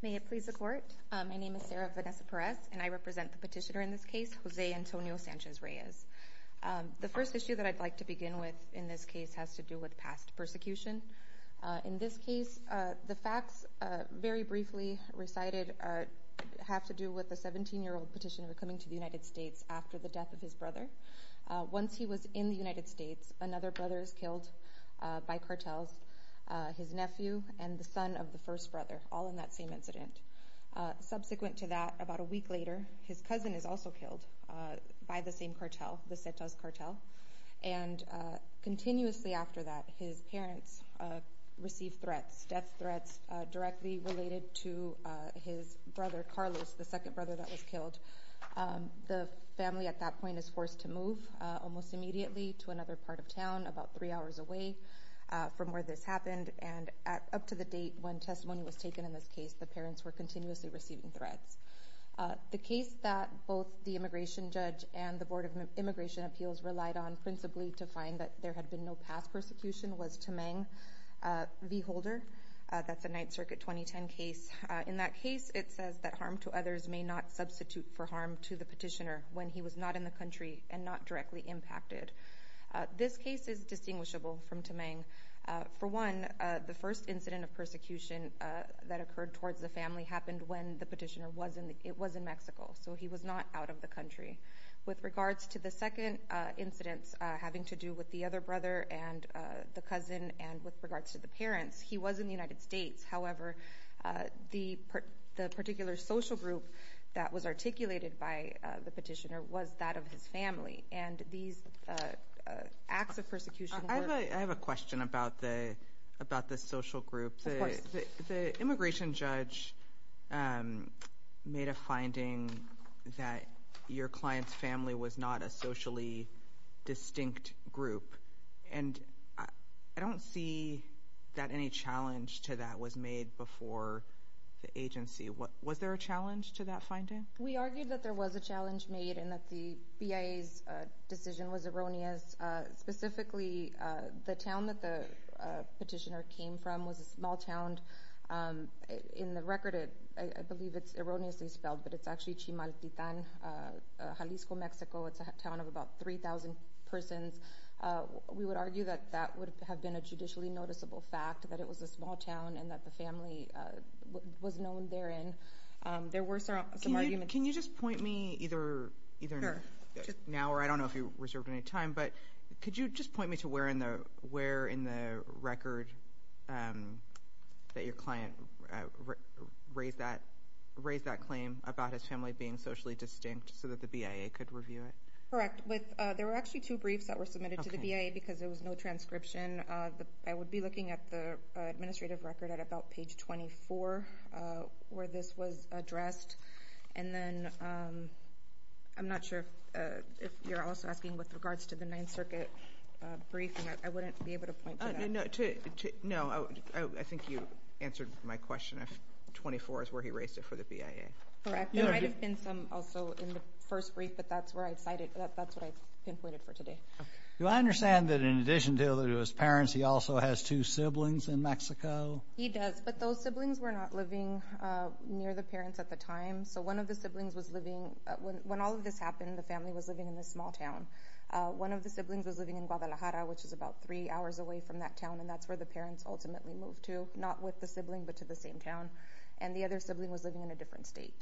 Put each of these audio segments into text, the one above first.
May it please the court. My name is Sarah Vanessa Perez and I represent the petitioner in this case, Jose Antonio Sanchez Reyes. The first issue that I'd like to begin with in this case has to do with past persecution. In this case, the facts, very briefly recited, have to do with a 17-year-old petitioner coming to the United States after the death of his his nephew and the son of the first brother, all in that same incident. Subsequent to that, about a week later, his cousin is also killed by the same cartel, the Cetas cartel, and continuously after that, his parents receive threats, death threats, directly related to his brother Carlos, the second brother that was killed. The family at that point is forced to move almost immediately to another part of town, about three hours away from where this happened, and up to the date when testimony was taken in this case, the parents were continuously receiving threats. The case that both the immigration judge and the Board of Immigration Appeals relied on principally to find that there had been no past persecution was Tamang v. Holder. That's a 9th Circuit 2010 case. In that case, it says that harm to others may not substitute for harm to the petitioner when he was not in the country and not directly impacted. This case is distinguishable from Tamang. For one, the first incident of persecution that occurred towards the family happened when the petitioner was in Mexico, so he was not out of the country. With regards to the second incident having to do with the other brother and the cousin, and with regards to the parents, he was in the United and these acts of persecution... I have a question about the social group. The immigration judge made a finding that your client's family was not a socially distinct group, and I don't see that any challenge to that was made before the agency. Was there a challenge to that finding? We argued that there was a challenge made and that the BIA's decision was erroneous. Specifically, the town that the petitioner came from was a small town. In the record, I believe it's erroneously spelled, but it's actually Chimaltitan, Jalisco, Mexico. It's a town of about 3,000 persons. We would argue that that would have been a judicially noticeable fact, that it was a small town, and that the family was known therein. There were some arguments... Can you just point me, either now or I don't know if you reserved any time, but could you just point me to where in the record that your client raised that claim about his family being socially distinct so that the BIA could review it? Correct. There were actually two briefs that were submitted to the record at about page 24 where this was addressed. I'm not sure if you're also asking with regards to the Ninth Circuit briefing. I wouldn't be able to point to that. No, I think you answered my question. 24 is where he raised it for the BIA. Correct. There might have been some also in the first brief, but that's what I pinpointed for today. Do I understand that in addition to his parents, he also has two siblings in Mexico? He does, but those siblings were not living near the parents at the time. When all of this happened, the family was living in this small town. One of the siblings was living in Guadalajara, which is about three hours away from that town, and that's where the parents ultimately moved to, not with the sibling, but to the same town. The other sibling was living in a different state.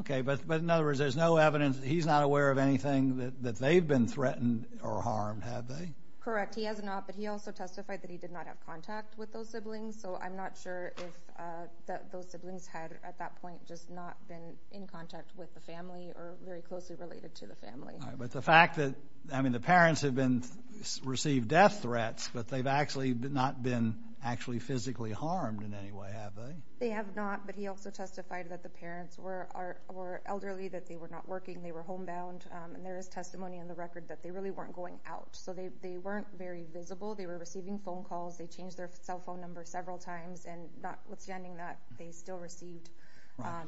Okay, but in other words, there's no evidence that he's not aware of anything that they've been threatened or harmed, have they? Correct. He has not, but he also testified that he did not have contact with those siblings, so I'm not sure if those siblings had at that point just not been in contact with the family or very closely related to the family. But the fact that, I mean, the parents have been received death threats, but they've actually not been actually physically harmed in any way, have they? They have not, but he also testified that the parents were elderly, that they were not working, they were homebound, and there is testimony on the record that they really weren't going out. So they weren't very visible. They were receiving phone calls. They changed their cell phone number several times, and notwithstanding that, they still received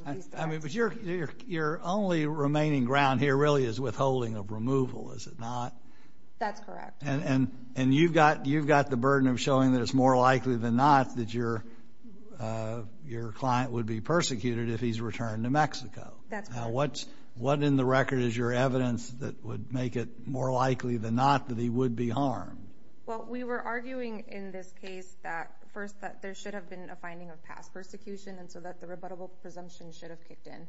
these threats. But your only remaining ground here really is withholding of removal, is it not? That's correct. And you've got the burden of showing that it's more likely than not that your client would be What in the record is your evidence that would make it more likely than not that he would be harmed? Well, we were arguing in this case that, first, that there should have been a finding of past persecution, and so that the rebuttable presumption should have kicked in.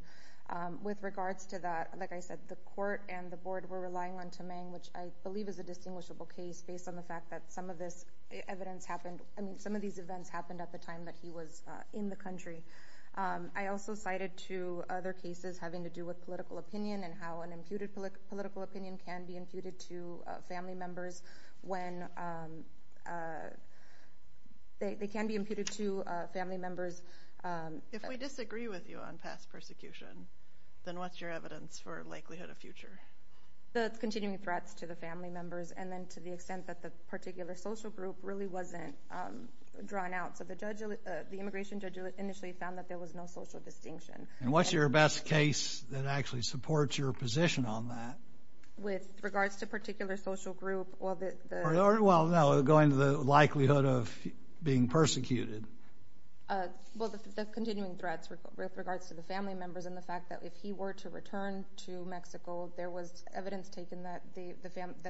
With regards to that, like I said, the court and the board were relying on Tamang, which I believe is a distinguishable case based on the fact that some of this evidence happened, I mean, some of these events happened at the time that he was in the country. I also cited two other cases having to do with political opinion and how an imputed political opinion can be imputed to family members when they can be imputed to family members. If we disagree with you on past persecution, then what's your evidence for likelihood of future? The continuing threats to the family members, and then to the extent that the particular social group really wasn't drawn out. So the immigration judge initially found that there was no social distinction. And what's your best case that actually supports your position on that? With regards to particular social group, well, the... Well, no, going to the likelihood of being persecuted. Well, the continuing threats with regards to the family members and the fact that if he were to return to Mexico, there was evidence taken that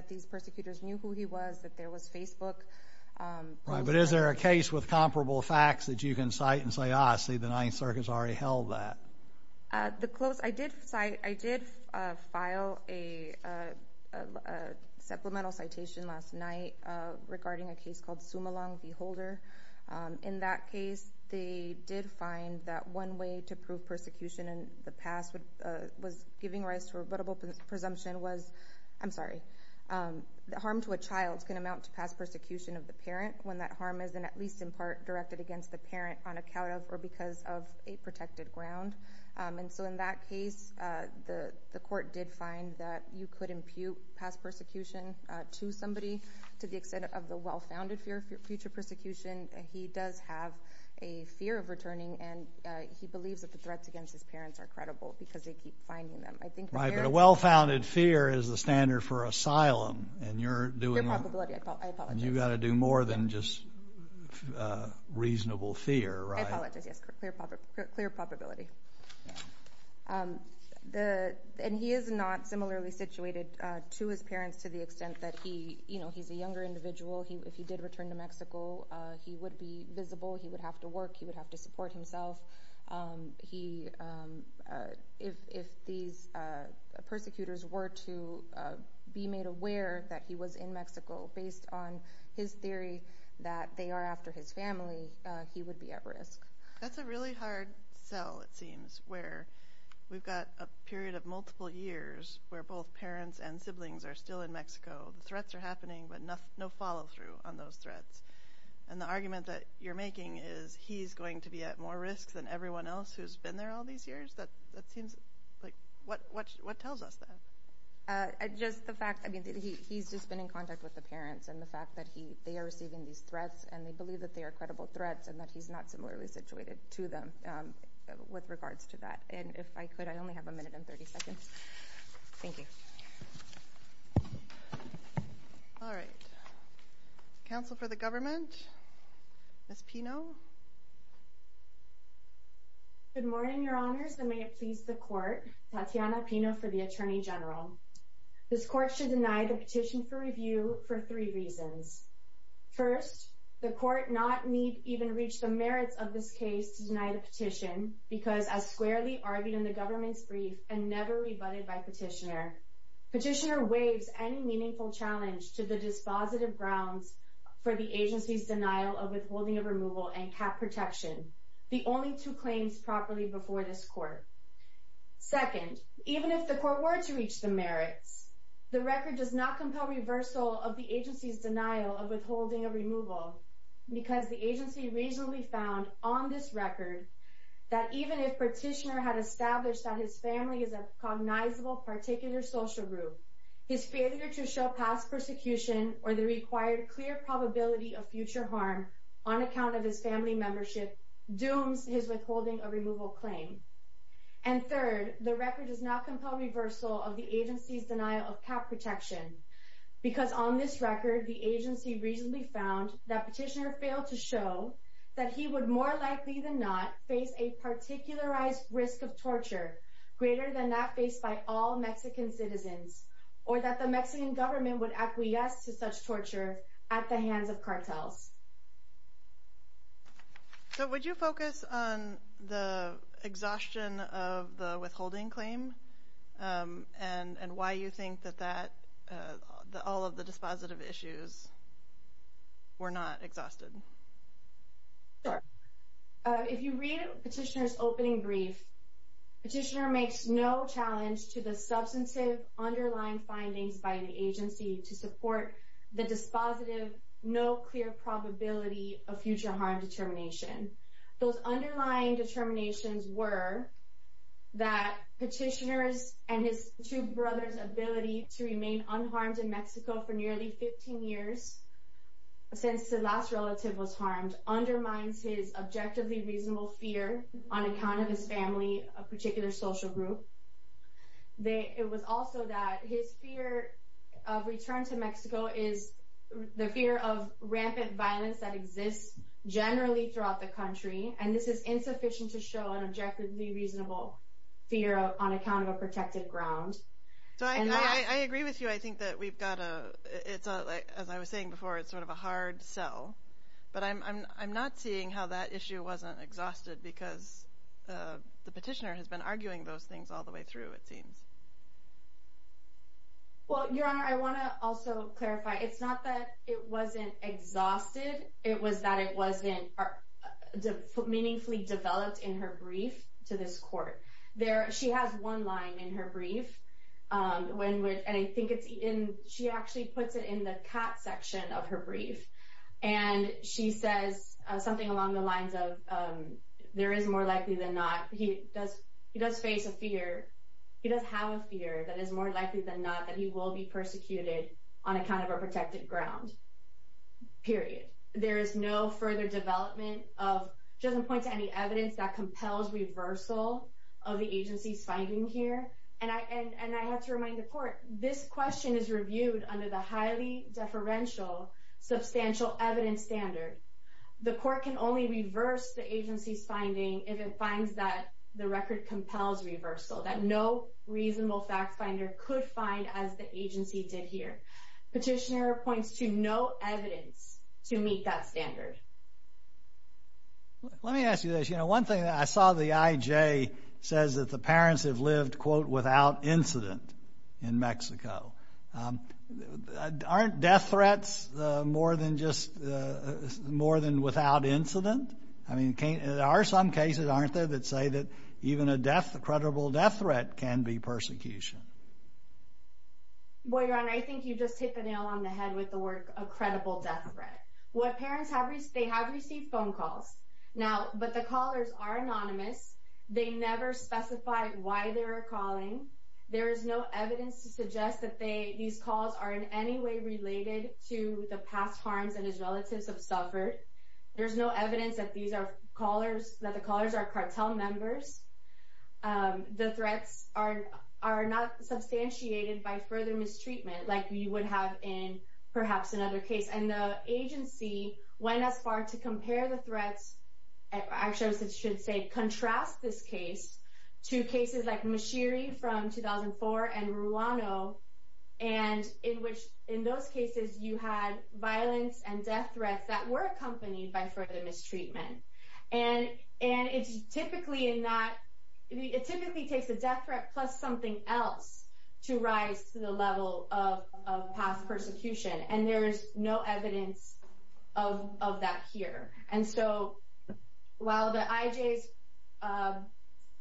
these persecutors knew who he was, that there was Right, but is there a case with comparable facts that you can cite and say, ah, see, the Ninth Circuit's already held that? The close... I did cite... I did file a supplemental citation last night regarding a case called Sumolong v. Holder. In that case, they did find that one way to prove persecution in the past was giving rise to a rebuttable presumption was... when that harm is, at least in part, directed against the parent on account of or because of a protected ground. And so in that case, the court did find that you could impute past persecution to somebody to the extent of the well-founded fear of future persecution. He does have a fear of returning, and he believes that the threats against his parents are credible because they keep finding them. Right, but a well-founded fear is the standard for asylum, and you're doing... Clear probability. I apologize. And you've got to do more than just reasonable fear, right? I apologize, yes. Clear probability. And he is not similarly situated to his parents to the extent that he's a younger individual. If he did return to Mexico, he would be visible. He would have to work. He would have to support himself. If these persecutors were to be made aware that he was in Mexico based on his theory that they are after his family, he would be at risk. That's a really hard sell, it seems, where we've got a period of multiple years where both parents and siblings are still in Mexico. The threats are happening, but no follow-through on those threats. And the argument that you're making is he's going to be at more risk than everyone else who's been there all these years? That seems... What tells us that? Just the fact that he's just been in contact with the parents, and the fact that they are receiving these threats, and they believe that they are credible threats, and that he's not similarly situated to them with regards to that. And if I could, I only have a minute and 30 seconds. Thank you. All right. Counsel for the government, Ms. Pino. Good morning, Your Honors, and may it please the Court. Tatiana Pino for the Attorney General. This Court should deny the petition for review for three reasons. First, the Court need not even reach the merits of this case to deny the petition, because as squarely argued in the government's brief and never rebutted by petitioner, petitioner waives any meaningful challenge to the dispositive grounds for the agency's denial of withholding of removal and cap protection, the only two claims properly before this Court. Second, even if the Court were to reach the merits, the record does not compel reversal of the agency's denial of withholding of removal, because the agency reasonably found on this record that even if petitioner had established that his family is a cognizable particular social group, his failure to show past persecution or the required clear probability of future harm on account of his family membership, dooms his withholding of removal claim. And third, the record does not compel reversal of the agency's denial of cap protection, because on this record the agency reasonably found that petitioner failed to show that he would more likely than not face a particularized risk of torture greater than that faced by all Mexican citizens, or that the Mexican government would acquiesce to such torture at the hands of cartels. So would you focus on the exhaustion of the withholding claim and why you think that all of the dispositive issues were not exhausted? Sure. If you read petitioner's opening brief, petitioner makes no challenge to the substantive underlying findings by the agency to support the dispositive, no clear probability of future harm determination. Those underlying determinations were that petitioner's and his two brothers' ability to remain unharmed in Mexico for nearly 15 years, since the last relative was harmed, undermines his objectively reasonable fear on account of his family, a particular social group. It was also that his fear of return to Mexico is the fear of rampant violence that exists generally throughout the country, and this is insufficient to show an objectively reasonable fear on account of a protected ground. So I agree with you. I think that we've got a, as I was saying before, it's sort of a hard sell. But I'm not seeing how that issue wasn't exhausted because the petitioner has been arguing those things all the way through, it seems. Well, Your Honor, I want to also clarify, it's not that it wasn't exhausted, it was that it wasn't meaningfully developed in her brief to this court. She has one line in her brief, and I think it's in, she actually puts it in the cat section of her brief, and she says something along the lines of, there is more likely than not, he does face a fear, he does have a fear that is more likely than not that he will be persecuted on account of a protected ground, period. There is no further development of, she doesn't point to any evidence that compels reversal of the agency's finding here. And I have to remind the court, this question is reviewed under the highly deferential substantial evidence standard. The court can only reverse the agency's finding if it finds that the record compels reversal, that no reasonable fact finder could find as the agency did here. Petitioner points to no evidence to meet that standard. Let me ask you this. You know, one thing I saw the IJ says that the parents have lived, quote, without incident in Mexico. Aren't death threats more than just, more than without incident? I mean, there are some cases, aren't there, that say that even a death, a credible death threat can be persecution? Well, Your Honor, I think you just hit the nail on the head with the word, a credible death threat. What parents have, they have received phone calls. Now, but the callers are anonymous. They never specify why they're calling. There is no evidence to suggest that they, these calls are in any way related to the past harms that his relatives have suffered. There's no evidence that these are callers, that the callers are cartel members. The threats are not substantiated by further mistreatment like you would have in perhaps another case. And the agency went as far to compare the threats. Actually, I should say contrast this case to cases like Mashiri from 2004 and Ruano. And in which, in those cases, you had violence and death threats that were accompanied by further mistreatment. And it's typically not, it typically takes a death threat plus something else to rise to the level of past persecution. And there's no evidence of that here. And so, while the IJ's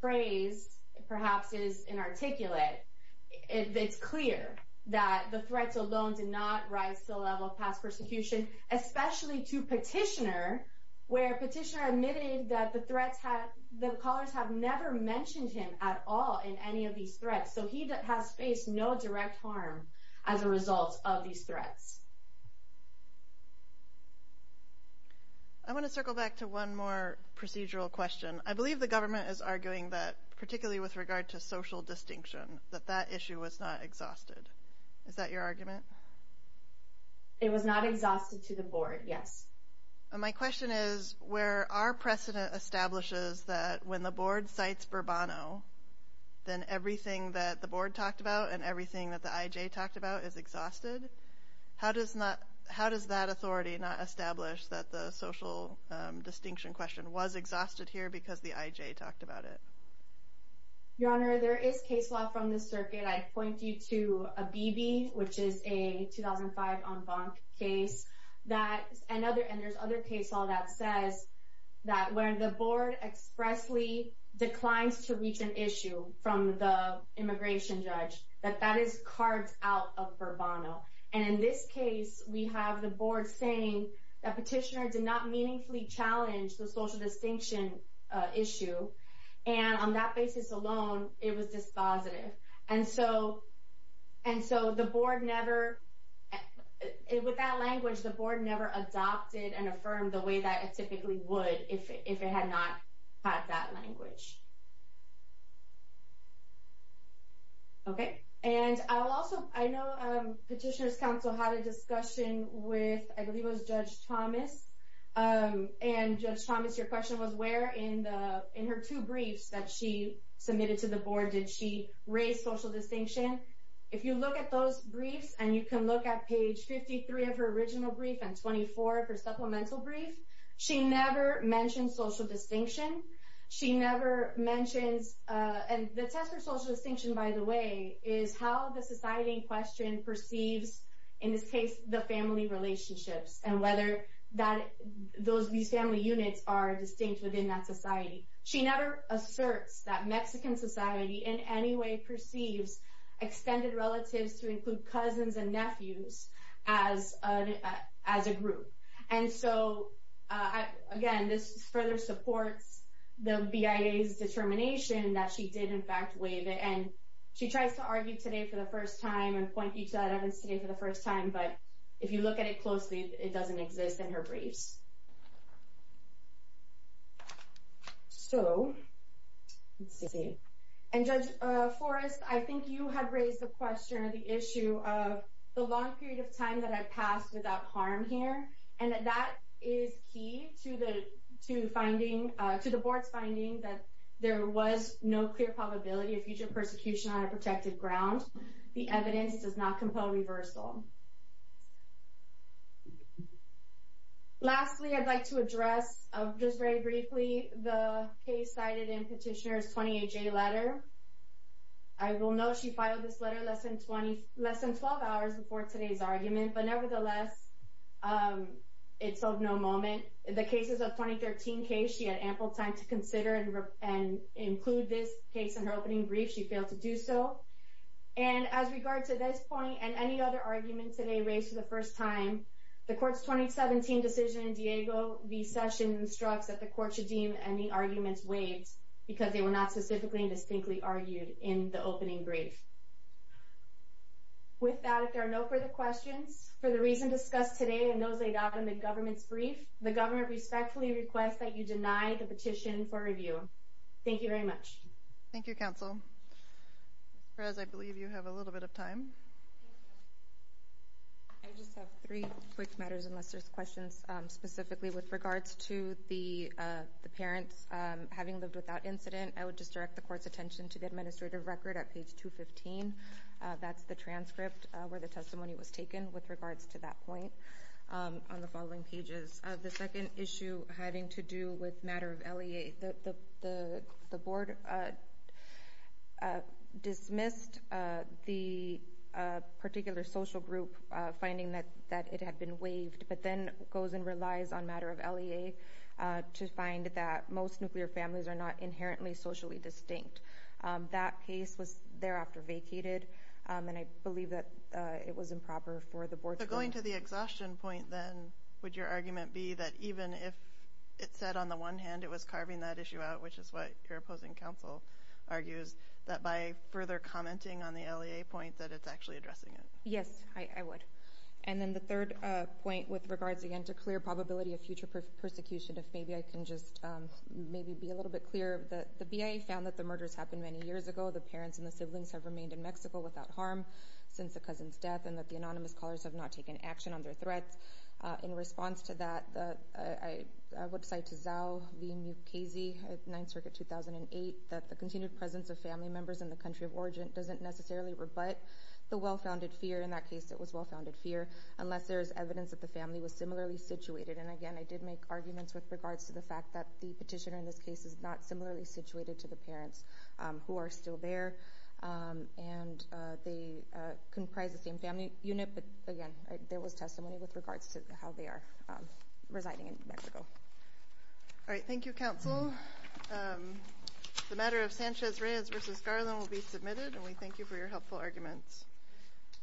phrase perhaps is inarticulate, it's clear that the threats alone did not rise to the level of past persecution. Especially to Petitioner, where Petitioner admitted that the threats had, the callers have never mentioned him at all in any of these threats. So he has faced no direct harm as a result of these threats. I want to circle back to one more procedural question. I believe the government is arguing that, particularly with regard to social distinction, that that issue was not exhausted. Is that your argument? It was not exhausted to the board, yes. My question is, where our precedent establishes that when the board cites Bourbono, then everything that the board talked about and everything that the IJ talked about is exhausted. How does that authority not establish that the social distinction question was exhausted here because the IJ talked about it? Your Honor, there is case law from the circuit. I point you to a BB, which is a 2005 en banc case. And there's other case law that says that when the board expressly declines to reach an issue from the immigration judge, that that is cards out of Bourbono. And in this case, we have the board saying that Petitioner did not meaningfully challenge the social distinction issue. And on that basis alone, it was dispositive. And so the board never, with that language, the board never adopted and affirmed the way that it typically would if it had not had that language. And I'll also, I know Petitioner's counsel had a discussion with, I believe it was Judge Thomas. And Judge Thomas, your question was where in the, in her two briefs that she submitted to the board, did she raise social distinction? If you look at those briefs and you can look at page 53 of her original brief and 24 of her supplemental brief, she never mentioned social distinction. She never mentions, and the test for social distinction, by the way, is how the society in question perceives, in this case, the family relationships. And whether that, those, these family units are distinct within that society. She never asserts that Mexican society in any way perceives extended relatives to include cousins and nephews as a group. And so, again, this further supports the BIA's determination that she did in fact waive it. And she tries to argue today for the first time and point you to that evidence today for the first time. But if you look at it closely, it doesn't exist in her briefs. So, let's see. And Judge Forrest, I think you had raised the question or the issue of the long period of time that I passed without harm here. And that is key to the, to finding, to the board's finding that there was no clear probability of future persecution on a protected ground. The evidence does not compel reversal. Lastly, I'd like to address, just very briefly, the case cited in Petitioner's 20HA letter. I will note she filed this letter less than 20, less than 12 hours before today's argument. But nevertheless, it's of no moment. The cases of 2013 case, she had ample time to consider and include this case in her opening brief. She failed to do so. And as regards to this point and any other arguments today raised for the first time, the court's 2017 decision in Diego v. Sessions instructs that the court should deem any arguments waived because they were not specifically and distinctly argued in the opening brief. With that, if there are no further questions, for the reason discussed today and those laid out in the government's brief, the government respectfully requests that you deny the petition for review. Thank you very much. Thank you, Counsel. Ms. Perez, I believe you have a little bit of time. I just have three quick matters, unless there's questions specifically with regards to the parents having lived without incident. I would just direct the court's attention to the administrative record at page 215. That's the transcript where the testimony was taken with regards to that point on the following pages. The second issue having to do with matter of LEA. The board dismissed the particular social group, finding that it had been waived, but then goes and relies on matter of LEA to find that most nuclear families are not inherently socially distinct. That case was thereafter vacated, and I believe that it was improper for the board to... According to the exhaustion point, then, would your argument be that even if it said, on the one hand, it was carving that issue out, which is what your opposing counsel argues, that by further commenting on the LEA point that it's actually addressing it? Yes, I would. And then the third point with regards, again, to clear probability of future persecution, if maybe I can just maybe be a little bit clearer. The BIA found that the murders happened many years ago. The parents and the siblings have remained in Mexico without harm since the cousin's death, and that the anonymous callers have not taken action on their threats. In response to that, I would cite to Zhao v. Mukasey, 9th Circuit, 2008, that the continued presence of family members in the country of origin doesn't necessarily rebut the well-founded fear. In that case, it was well-founded fear, unless there is evidence that the family was similarly situated. And, again, I did make arguments with regards to the fact that the petitioner in this case is not similarly situated to the parents who are still there, and they comprise the same family unit. But, again, there was testimony with regards to how they are residing in Mexico. All right. Thank you, counsel. The matter of Sanchez-Reyes v. Garland will be submitted, and we thank you for your helpful arguments.